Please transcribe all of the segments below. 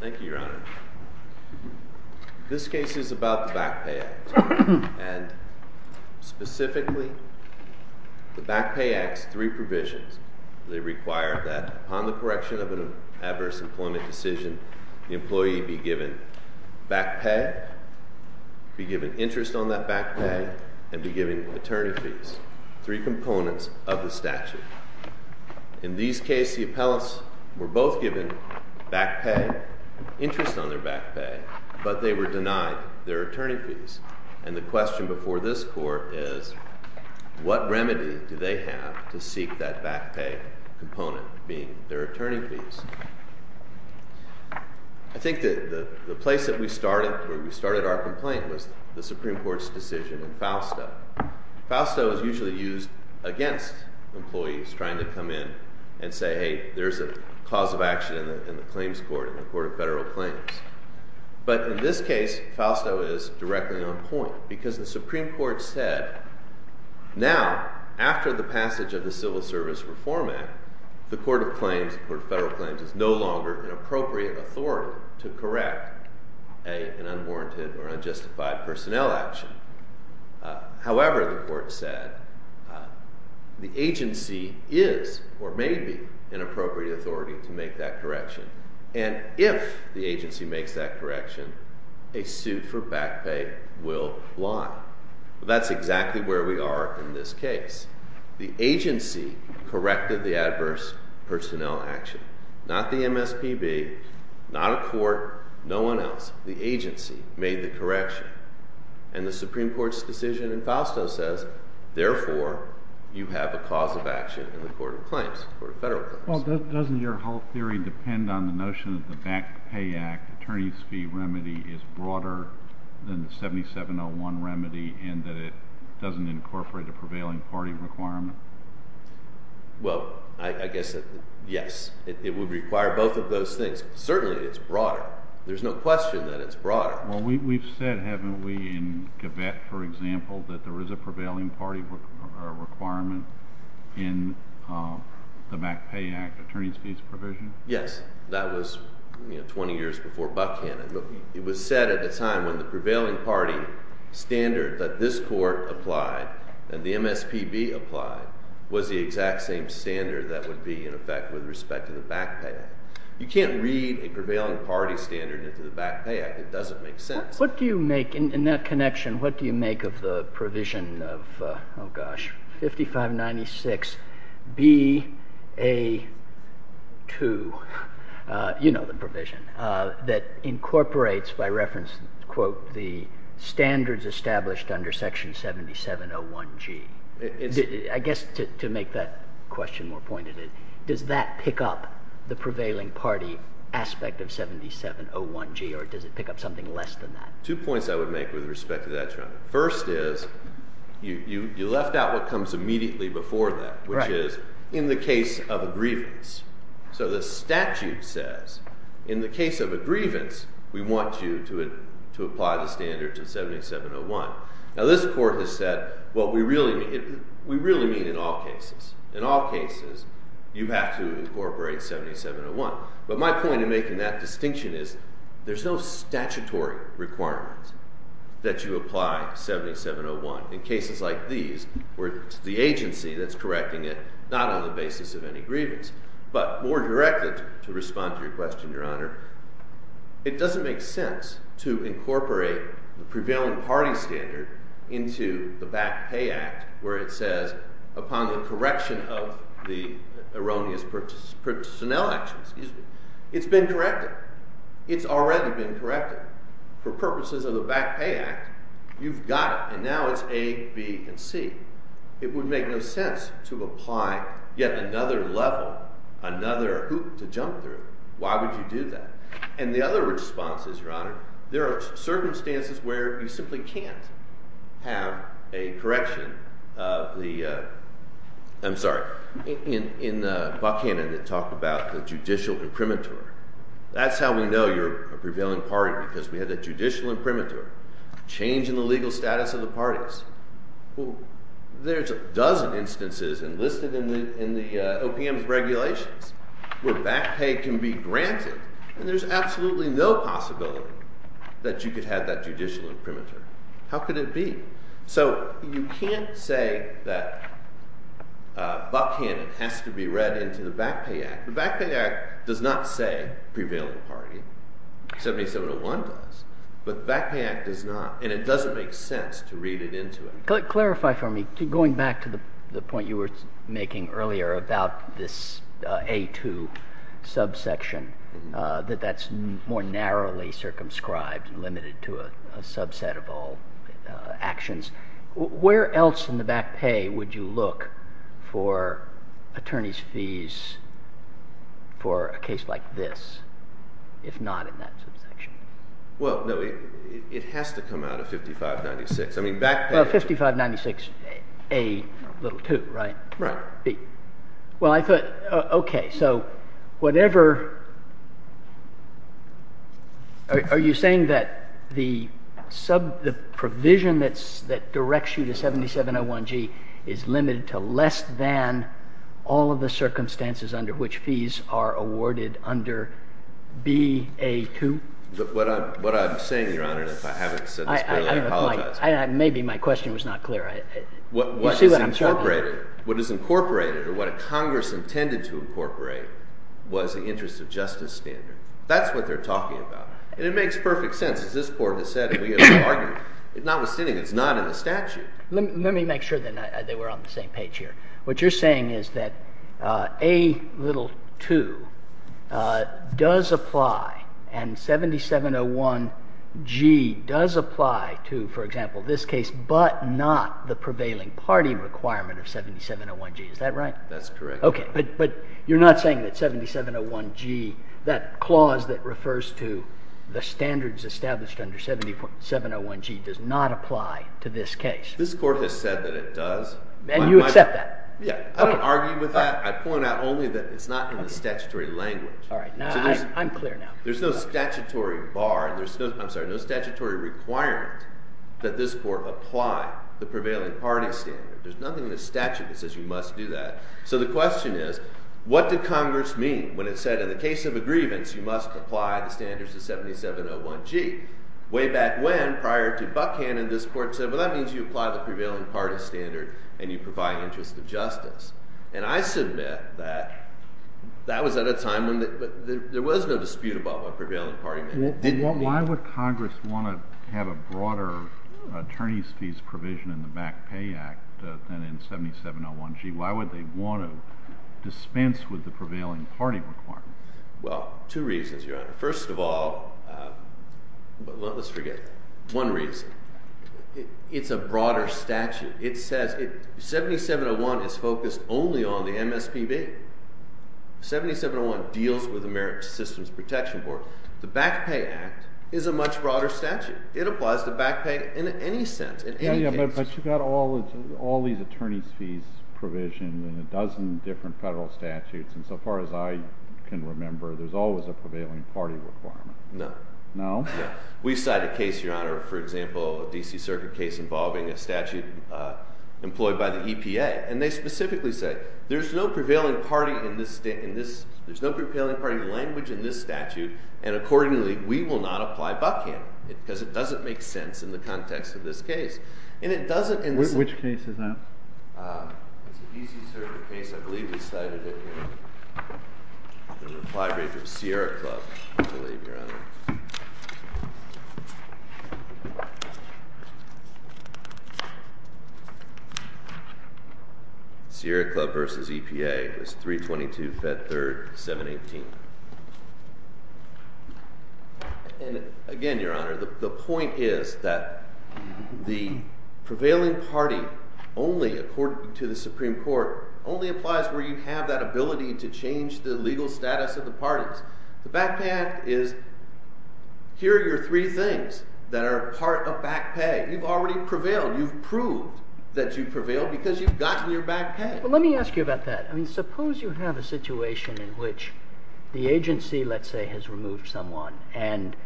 Thank you, Your Honor. This case is about the Backpay Act, and specifically, the Backpay Act's three provisions. They require that, upon the correction of an adverse employment decision, the employee be given back pay, be given interest on that back pay, and be given attorney fees, three components of the statute. In these cases, the appellants were both given back pay, interest on their back pay, but they were denied their attorney fees. And the question before this Court is, what remedy do they have to seek that back pay component, being their attorney fees? I think that the place that we started, where we started our complaint, was the Supreme Court's decision in Fausto. Fausto is usually used against employees trying to come in and say, hey, there's a cause of action in the claims court, in the Court of Federal Claims. But in this case, Fausto is directly on point, because the Supreme Court said, now, after the passage of the Civil Service Reform Act, the Court of Claims, the Court of Federal Claims, is no longer an appropriate authority to correct an unwarranted or unjustified personnel action. However, the Court said, the agency is, or may be, an appropriate authority to make that correction. And if the agency makes that correction, a suit for back pay will lie. That's exactly where we are in this case. The agency corrected the adverse personnel action. Not the MSPB, not a court, no one else. The agency made the correction. And the Supreme Court's decision in Fausto says, therefore, you have a cause of action in the Court of Claims, the Court of Federal Claims. Well, doesn't your whole theory depend on the notion that the Back Pay Act attorney's fee remedy is broader than the 7701 remedy in that it doesn't incorporate a prevailing party requirement? Well, I guess, yes. It would require both of those things. Certainly, it's broader. There's no question that it's broader. Well, we've said, haven't we, in Gavette, for example, that there is a prevailing party requirement in the Back Pay Act attorney's fees provision? Yes. That was 20 years before Buckhannon. It was said at the time when the prevailing party standard that this court applied and the MSPB applied was the exact same standard that would be in effect with respect to the Back Pay Act. You can't read a prevailing party standard into the Back Pay Act. It doesn't make sense. What do you make, in that connection, what do you make of the provision of, oh gosh, 5596BA2, you know the provision, that incorporates, by reference, quote, the standards established under section 7701G? I guess to make that question more pointed, does that pick up the prevailing party aspect of 7701G or does it pick up something less than that? Two points I would make with respect to that, Chuck. First is, you left out what comes immediately before that, which is, in the case of a grievance. So the statute says, in the case of a grievance, we want you to apply the standard to 7701. Now this court has said, what we really mean, we really mean in all cases. In all cases, you have to incorporate 7701. But my point in making that distinction is, there's no statutory requirement that you apply 7701. In cases like these, where it's the agency that's correcting it, not on the basis of any grievance. But more directly, to respond to your question, Your Honor, it doesn't make sense to incorporate the prevailing party standard into the Back Pay Act, where it says, upon the correction of the erroneous personnel actions, it's been corrected. It's already been corrected. For purposes of the Back Pay Act, you've got it. And now it's A, B, and C. It would make no sense to apply yet another level, another hoop to jump through. Why would you do that? And the other response is, Your Honor, there are circumstances where you simply can't have a correction of the, I'm sorry, in Buckhannon, it talked about the judicial imprimatur. That's how we know you're a prevailing party, because we have the judicial imprimatur. Change in the legal status of the parties. There's a dozen instances enlisted in the OPM's regulations, where back pay can be granted, and there's absolutely no possibility that you could have that judicial imprimatur. How could it be? So you can't say that Buckhannon has to be read into the Back Pay Act. The Back Pay Act does not say prevailing party. 7701 does. But the Back Pay Act does not, and it doesn't make sense to read it into it. Clarify for me, going back to the point you were making earlier about this A2 subsection, that that's more narrowly circumscribed and limited to a subset of all actions. Where else in the back pay would you look for attorney's fees for a case like this, if not in that Well, 5596A little 2, right? Right. Well, I thought, OK. So whatever, are you saying that the provision that directs you to 7701G is limited to less than all of the circumstances under which fees are awarded under BA2? What I'm saying, Your Honor, and if I haven't said this clearly, I apologize. Maybe my question was not clear. You see what I'm talking about? What is incorporated, or what Congress intended to incorporate, was the interest of justice standard. That's what they're talking about. And it makes perfect sense, as this Court has said, and we have argued. Notwithstanding, it's not in the statute. Let me make sure that they were on the same page here. What you're saying is that A little 2 does apply, and 7701G does apply to, for example, this case, but not the prevailing party requirement of 7701G. Is that right? That's correct. OK. But you're not saying that 7701G, that clause that refers to the standards established under 7701G, does not apply to this case? This Court has said that it does. And you accept that? Yeah. I don't argue with that. I point out only that it's not in the statutory language. All right. I'm clear now. There's no statutory bar, I'm sorry, no statutory requirement that this Court apply the prevailing party standard. There's nothing in the statute that says you must do that. So the question is, what did Congress mean when it said, in the case of a grievance, you must apply the standards to 7701G? Way back when, prior to Buchanan, this Court said, well, that means you apply the prevailing party standard and you provide interest of justice. And I submit that that was at a time when there was no dispute about what prevailing party meant. Why would Congress want to have a broader attorney's fees provision in the Back Pay Act than in 7701G? Why would they want to dispense with the prevailing party requirement? Well, two reasons, Your Honor. First of all, let's forget that. One reason. It's a broader statute. It says, 7701 is focused only on the MSPB. 7701 deals with the Merit to Systems Protection Board. The Back Pay Act is a much broader statute. It applies to back pay in any sense, in any case. Yeah, but you've got all these attorney's fees provisions and a dozen different federal statutes, and so far as I can remember, there's always a prevailing party requirement. No. No? No. We've cited a case, Your Honor, for example, a DC Circuit case involving a statute employed by the EPA. And they specifically say, there's no prevailing party language in this statute, and accordingly, we will not apply back pay, because it doesn't make sense in the context of this case. And it doesn't in the- Which case is that? It's a DC Circuit case. I believe we cited it in the reply brief of Sierra Club, I believe, Your Honor. Sierra Club versus EPA is 322-Fed-3rd-718. And again, Your Honor, the point is that the prevailing party only, according to the Supreme Court, only applies where you have that ability to change the legal status of the parties. The back pay is, here are your three things that are part of back pay. You've already prevailed. You've proved that you've prevailed because you've gotten your back pay. Well, let me ask you about that. I mean, suppose you have a situation in which the agency, let's say, has removed someone, and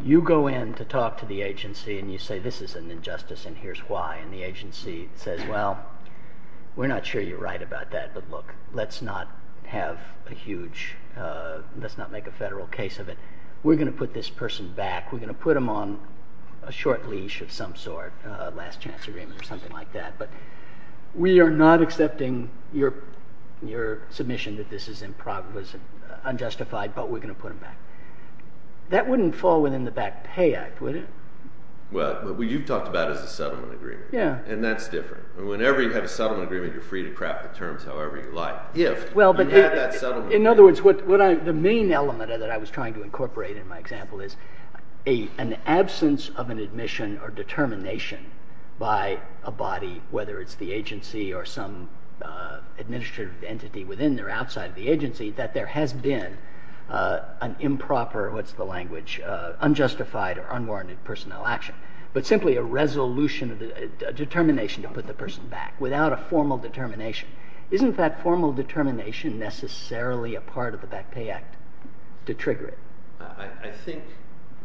you go in to talk to the agency, and you say, this is an injustice, and here's why. And the agency says, well, we're not sure you're right about that, but look, let's not have a huge, let's not make a federal case of it. We're going to put this person back. We're going to put them on a short leash of some sort, a last chance agreement or something like that. But we are not accepting your submission that this is unjustified, but we're going to put them back. That wouldn't fall within the back pay act, would it? Well, what you've talked about is a settlement agreement. Yeah. And that's different. Whenever you have a settlement agreement, you're free to craft the terms however you like. In other words, the main element that I was trying to incorporate in my example is an absence of an admission or determination by a body, whether it's the agency or some administrative entity within or outside of the agency, that there has been an improper, what's the language, unjustified or unwarranted personnel action, but simply a resolution, a determination to put the person back without a formal determination. Isn't that formal determination necessarily a part of the back pay act to trigger it? I think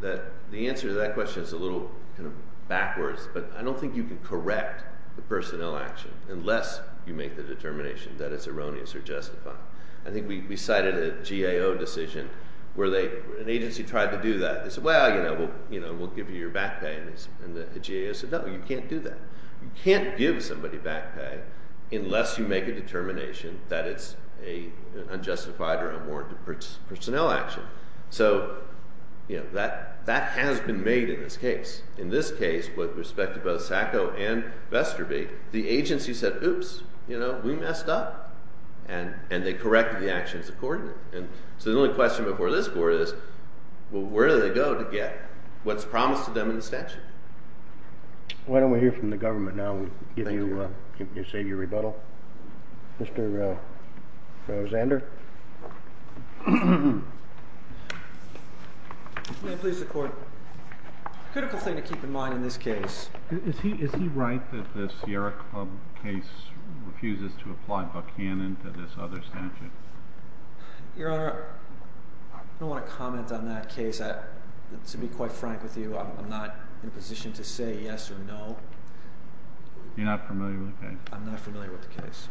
that the answer to that question is a little kind of backwards, but I don't think you can correct the personnel action unless you make the determination that it's erroneous or unjustified. I think we cited a GAO decision where an agency tried to do that. They said, well, we'll give you your back pay, and the GAO said, no, you can't do that. You can't give somebody back pay unless you make a determination that it's an unjustified or unwarranted personnel action. So that has been made in this case. In this case, with respect to both SACO and SACO, it's been made in this case. And they corrected the actions according to it. So the only question before this court is, well, where do they go to get what's promised to them in the statute? Why don't we hear from the government now? We'll give you your savior rebuttal. Mr. Zander. May it please the Court. A critical thing to keep in mind in this case. Is he right that the Sierra Club case refuses to apply Buchanan to this other statute? Your Honor, I don't want to comment on that case. To be quite frank with you, I'm not in a position to say yes or no. You're not familiar with the case? I'm not familiar with the case.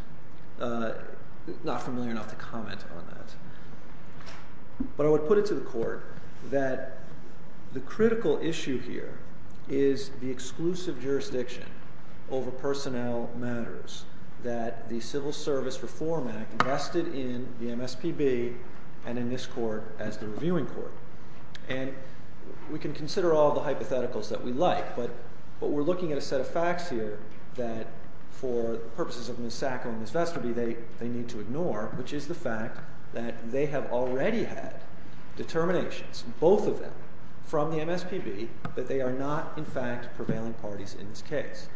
Not familiar enough to comment on that. But I would put to the Court that the critical issue here is the exclusive jurisdiction over personnel matters that the Civil Service Reform Act invested in the MSPB and in this court as the reviewing court. And we can consider all the hypotheticals that we like, but we're looking at a set of facts here that, for purposes of Ms. SACO and Ms. Vesterby, they need to both of them from the MSPB, but they are not, in fact, prevailing parties in this case.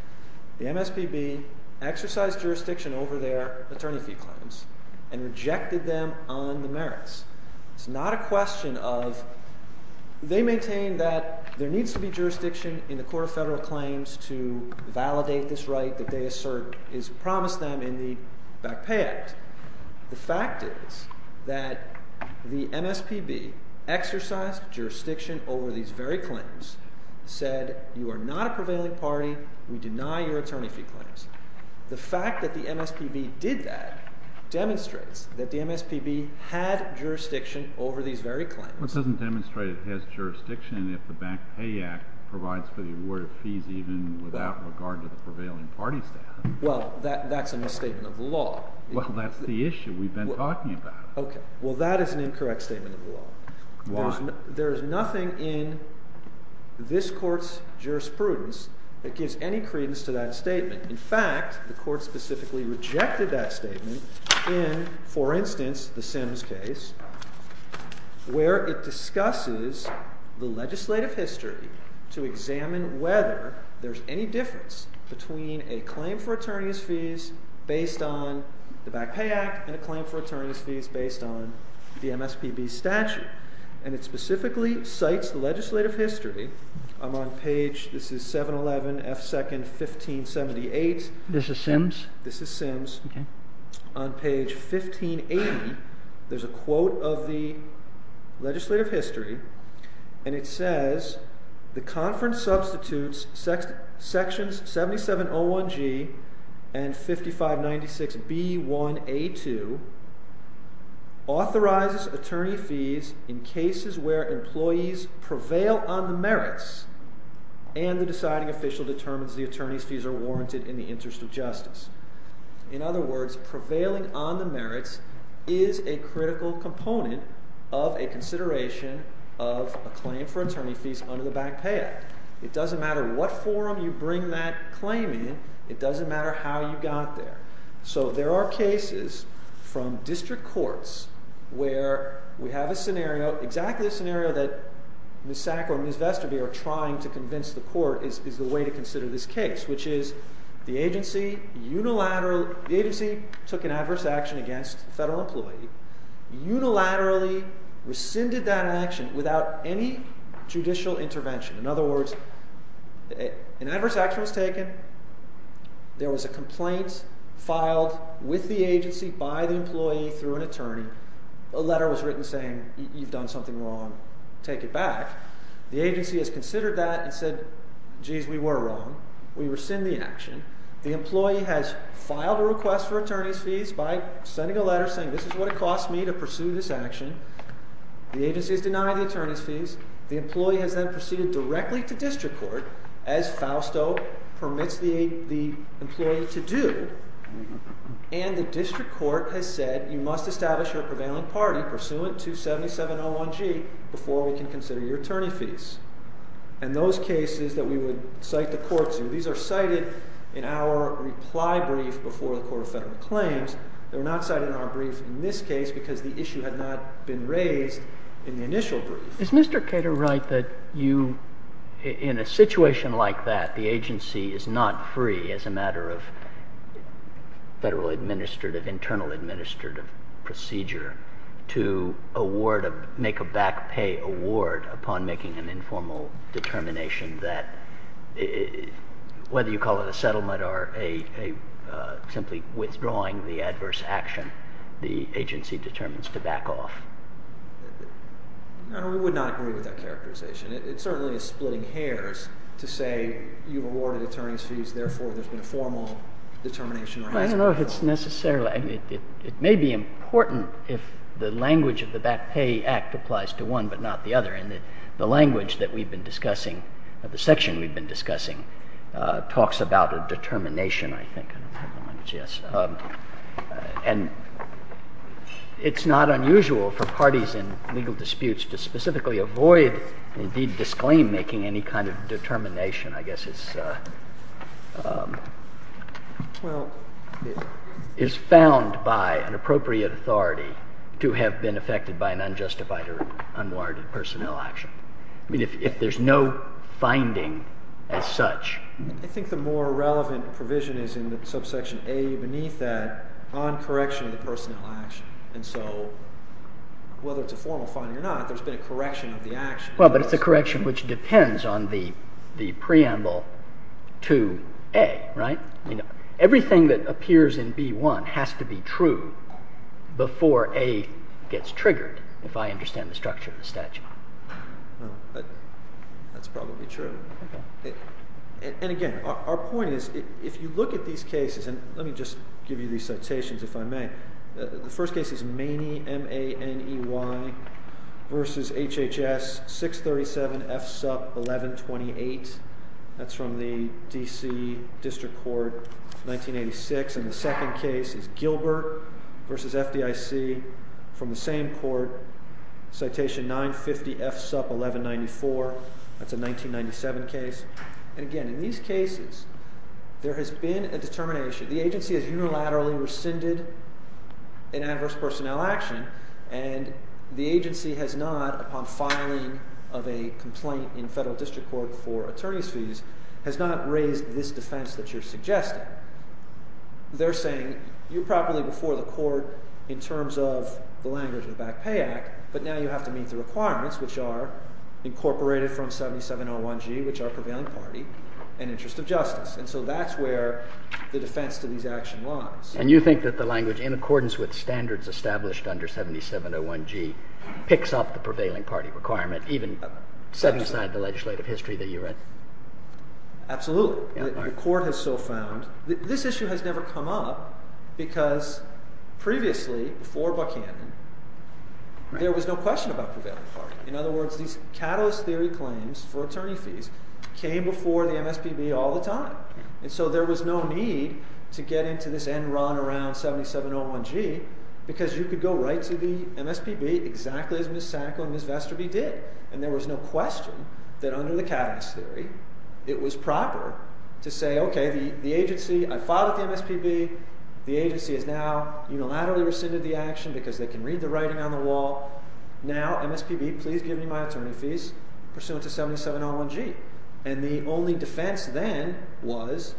The MSPB exercised jurisdiction over their attorney fee claims and rejected them on the merits. It's not a question of they maintain that there needs to be jurisdiction in the Court of Federal Claims to validate this right that they assert is promised them in the Back Pay Act. The MSPB exercised jurisdiction over these very claims, said you are not a prevailing party, we deny your attorney fee claims. The fact that the MSPB did that demonstrates that the MSPB had jurisdiction over these very claims. Well, it doesn't demonstrate it has jurisdiction if the Back Pay Act provides for the award of fees even without regard to the prevailing party staff. Well, that's a misstatement of the law. Well, that's the issue. We've been talking about it. Okay. Well, that is an incorrect statement of the law. Why? There is nothing in this Court's jurisprudence that gives any credence to that statement. In fact, the Court specifically rejected that statement in, for instance, the Sims case, where it discusses the legislative history to examine whether there's any difference between a claim for attorney's fees based on the Back Pay Act and a claim for attorney's fees based on the MSPB statute. And it specifically cites legislative history. I'm on page, this is 711 F. 2nd, 1578. This is Sims? This is Sims. Okay. On page 1580, there's a quote of the legislative history, and it says, the conference substitutes sections 7701G and 5596B1A2 authorizes attorney fees in cases where employees prevail on the merits and the deciding official determines the attorney's fees are warranted in the interest of justice. In other words, prevailing on the merits is a critical component of a consideration of a claim for attorney fees under the Back Pay Act. It doesn't matter what forum you bring that claim in, it doesn't matter how you got there. So there are cases from district courts where we have a scenario, exactly the scenario that Ms. Sack or Ms. Vesterby are trying to convince the Court is the way to consider this case, which is the agency took an adverse action against a federal employee, unilaterally rescinded that action without any judicial intervention. In other words, an adverse action was taken, there was a complaint filed with the agency by the employee through an attorney, a letter was written saying you've done something wrong, take it back. The agency has considered that and said, geez, we were wrong, we rescind the action. The employee has filed a request for attorney's fees by sending a letter saying this is what it cost me to pursue this action. The agency has denied the attorney's fees. The employee has then proceeded directly to district court as FAUSTO permits the employee to do. And the district court has said you must establish your prevailing party pursuant to 7701G before we can consider your attorney fees. And those cases that we would cite the in our reply brief before the Court of Federal Claims, they were not cited in our brief in this case because the issue had not been raised in the initial brief. Is Mr. Cato right that you, in a situation like that, the agency is not free as a matter of federal administrative, internal administrative procedure to award, make a back pay award upon making an informal determination that, whether you call it a settlement or simply withdrawing the adverse action, the agency determines to back off? No, we would not agree with that characterization. It certainly is splitting hairs to say you awarded attorney's fees, therefore there's been a formal determination or has been a formal determination. I don't know if it's necessarily. It may be important if the language of the back pay act applies to one but not the other. And the language that we've been discussing, the section we've been discussing, talks about a determination, I think. And it's not unusual for parties in legal disputes to specifically avoid and indeed disclaim making any kind of determination. I guess it's, well, is found by an appropriate authority to have been affected by an unjustified or unwarranted personnel action. I mean, if there's no finding as such. I think the more relevant provision is in the subsection A beneath that on correction of the personnel action. And so whether it's a formal finding or not, there's been a correction of the action. Well, but it's a correction which depends on the preamble to A, right? Everything that I understand the structure of the statute. That's probably true. And again, our point is if you look at these cases, and let me just give you these citations if I may. The first case is Maney versus HHS 637 F SUP 1128. That's from the DC District Court 1986. And the second case is Gilbert versus FDIC from the same court, citation 950 F SUP 1194. That's a 1997 case. And again, in these cases, there has been a determination. The agency has unilaterally rescinded an adverse personnel action. And the agency has not, upon filing of a complaint in federal district court for attorney's fees, has not raised this defense that you're suggesting. They're saying you're properly before the court in terms of the language of the Back Pay Act. But now you have to meet the requirements, which are incorporated from 7701G, which are prevailing party and interest of justice. And so that's where the defense to these action lies. And you think that the language in accordance with standards established under 7701G picks up the prevailing party requirement, even set aside the legislative history that you read? Absolutely. The court has so found. This issue has never come up because previously, before Buchanan, there was no question about prevailing party. In other words, these catalyst theory claims for attorney fees came before the MSPB all the time. And so there was no need to get into this end run around 7701G because you could go right to the MSPB exactly as Ms. Sacco and Ms. Vesterby did. And there was no question that under the catalyst theory, it was proper to say, okay, I filed with the MSPB. The agency has now unilaterally rescinded the action because they can read the writing on the wall. Now MSPB, please give me my attorney fees pursuant to 7701G. And the only defense then was,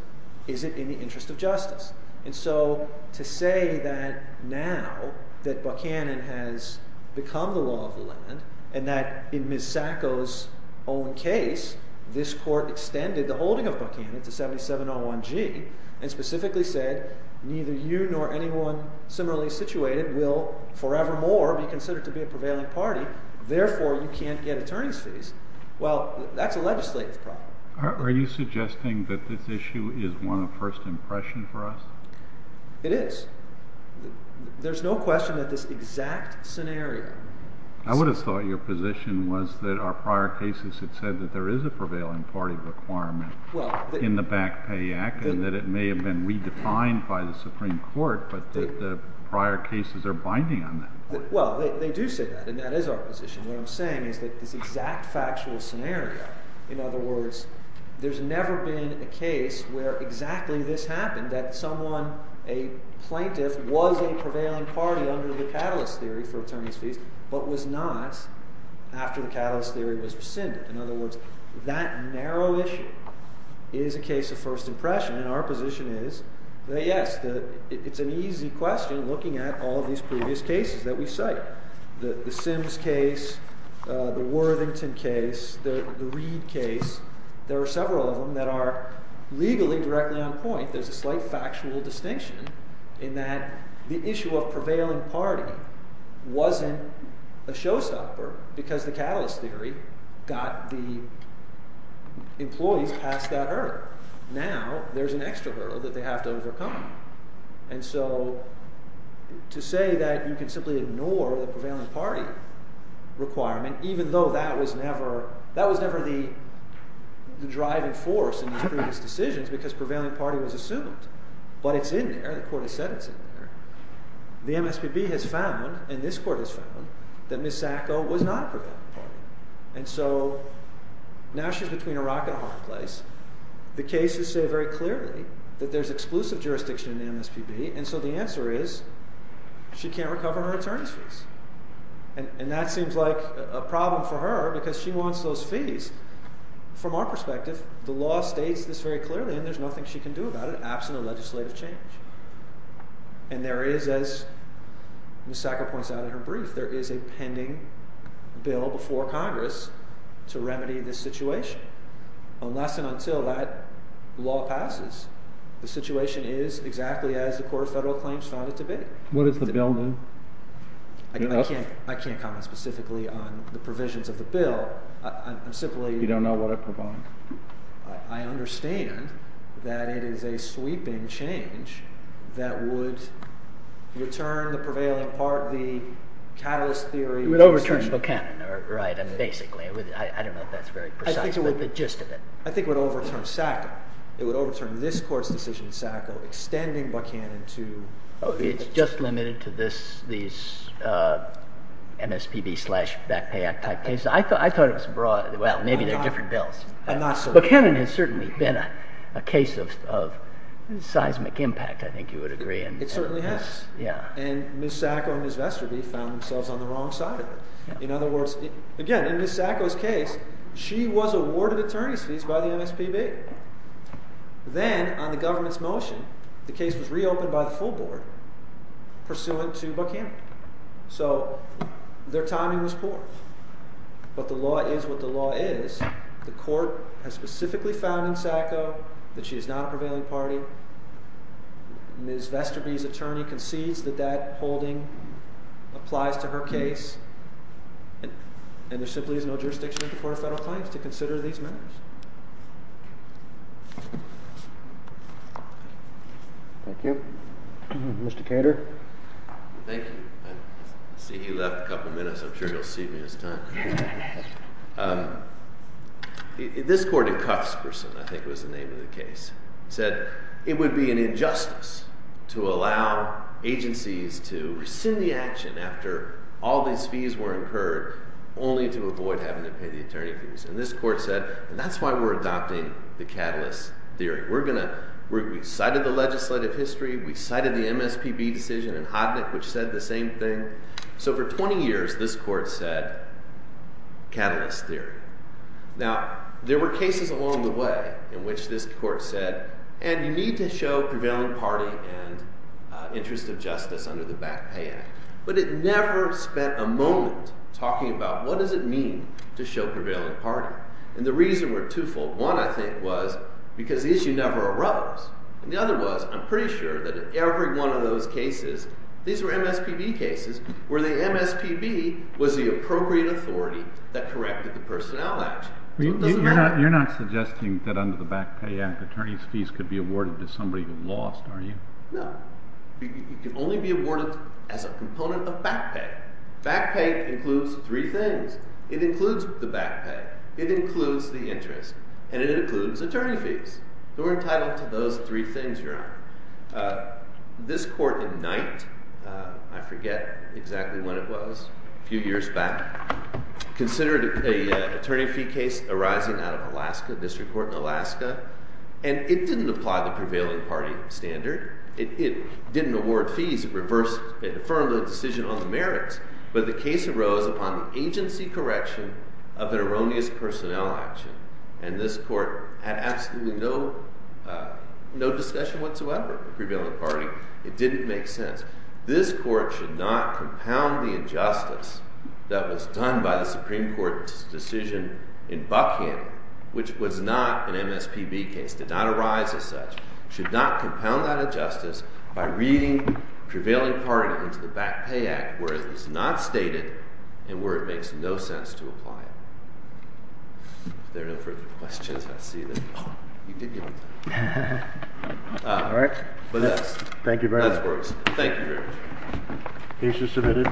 is it in the interest of justice? And so to say that now that Buchanan has become the law of the land and that in Ms. Sacco's own case, this court extended the holding of Buchanan to 7701G and specifically said, neither you nor anyone similarly situated will forevermore be considered to be a prevailing party. Therefore, you can't get attorney's fees. Well, that's a legislative problem. Are you suggesting that this issue is one of first impression for us? It is. There's no question that this exact scenario. I would have thought your position was that our prior cases had said that there is a prevailing party requirement in the Back Pay Act and that it may have been redefined by the Supreme Court, but that the prior cases are binding on that. Well, they do say that. And that is our position. What I'm saying is that this exact factual scenario, in other words, there's never been a case where exactly this happened, that someone, a plaintiff, was a prevailing party under the catalyst theory for attorney's fees, but was not after the catalyst theory was rescinded. In other words, that narrow issue is a case of first impression. And our position is that, yes, it's an easy question looking at all these previous cases that we cite. The Sims case, the Worthington case, the Reid case, there are several of them that are legally directly on point. There's a slight factual distinction in that the issue of prevailing party wasn't a showstopper because the catalyst theory got the employees past that hurdle. Now, there's an extra hurdle that they have to overcome. And so to say that you can simply ignore the prevailing party requirement, even though that was never the driving force in these previous decisions because prevailing party was assumed. But it's in there. The court has said it's in there. The MSPB has found, and this court has found, that Ms. Sacco was not a prevailing party. And so now she's between a rock and a hard place. The cases say very clearly that there's exclusive jurisdiction in the MSPB, and so the answer is she can't recover her attorney's fees. And that seems like a problem for her because she wants those fees. From our perspective, the law states this very clearly, and there's nothing she can do about it, absent a legislative change. And there is, as Ms. Sacco points out in her brief, there is a pending bill before Congress to remedy this situation. Unless and until that law passes, the situation is exactly as the Court of Federal Claims found it to be. What does the bill do? I can't comment specifically on the provisions of the bill. I'm simply— You don't know what it provides. I understand that it is a sweeping change that would return the prevailing part of the situation. It would overturn Buchanan, right, basically. I don't know if that's very precise, but the gist of it. I think it would overturn Sacco. It would overturn this Court's decision in Sacco, extending Buchanan to— It's just limited to these MSPB slash Back Pay Act type cases. I thought it was broad. Well, maybe they're different bills. I'm not so sure. Buchanan has certainly been a case of seismic impact, I think you would agree. It certainly has. And Ms. Sacco and Ms. Vesterby found themselves on the wrong side of it. In other words, again, in Ms. Sacco's case, she was awarded attorney's fees by the MSPB. Then, on the government's motion, the case was reopened by the full board, pursuant to Buchanan. So, their timing was poor. But the law is what the law is. The Court has specifically found in Sacco that she is not a prevailing party. Ms. Vesterby's attorney concedes that that holding applies to her case. And there simply is no jurisdiction at the Court of Federal Claims to consider these matters. Thank you. Mr. Cater? Thank you. I see he left a couple minutes. I'm sure he'll see me this time. This court in Cuthberson, I think was the name of the case, said it would be an injustice to allow agencies to rescind the action after all these fees were incurred, only to avoid having to pay the attorney fees. And this court said, and that's why we're adopting the catalyst theory. We cited the legislative history, we cited the MSPB decision in Hodnick, which said the same thing. So, for 20 years, this court said catalyst theory. Now, there were cases along the way in which this court said, and you need to show prevailing party and interest of justice under the Back Pay Act. But it never spent a moment talking about what does it mean to show prevailing party. And the reason we're two-fold. One, I think, was because the issue never arose. And the other was, I'm pretty sure that in every one of those cases, these were MSPB cases, where the MSPB was the appropriate authority that corrected the personnel action. So it doesn't matter. You're not suggesting that under the Back Pay Act, attorney's fees could be awarded to somebody who lost, are you? No. It can only be awarded as a component of back pay. Back pay includes three things. It includes the back pay. It includes the interest. And it includes attorney fees. We're entitled to those three things, Your Honor. This court in Knight, I forget exactly when it was, a few years back, considered an attorney fee case arising out of Alaska, district court in Alaska. And it didn't apply the prevailing party standard. It didn't award fees. It reversed, it affirmed the decision on the merits. But the case arose upon agency correction of an erroneous personnel action. And this court had absolutely no discussion whatsoever with the prevailing party. It didn't make sense. This court should not compound the injustice that was done by the Supreme Court's decision in Buckham, which was not an MSPB case, did not arise as such, should not compound that injustice by reading prevailing party into the Back Pay Act, where it was not stated, and where it makes no sense to apply it. If there are no further questions, I see that you did give them to me. All right. Thank you very much. Thank you very much. Case is submitted.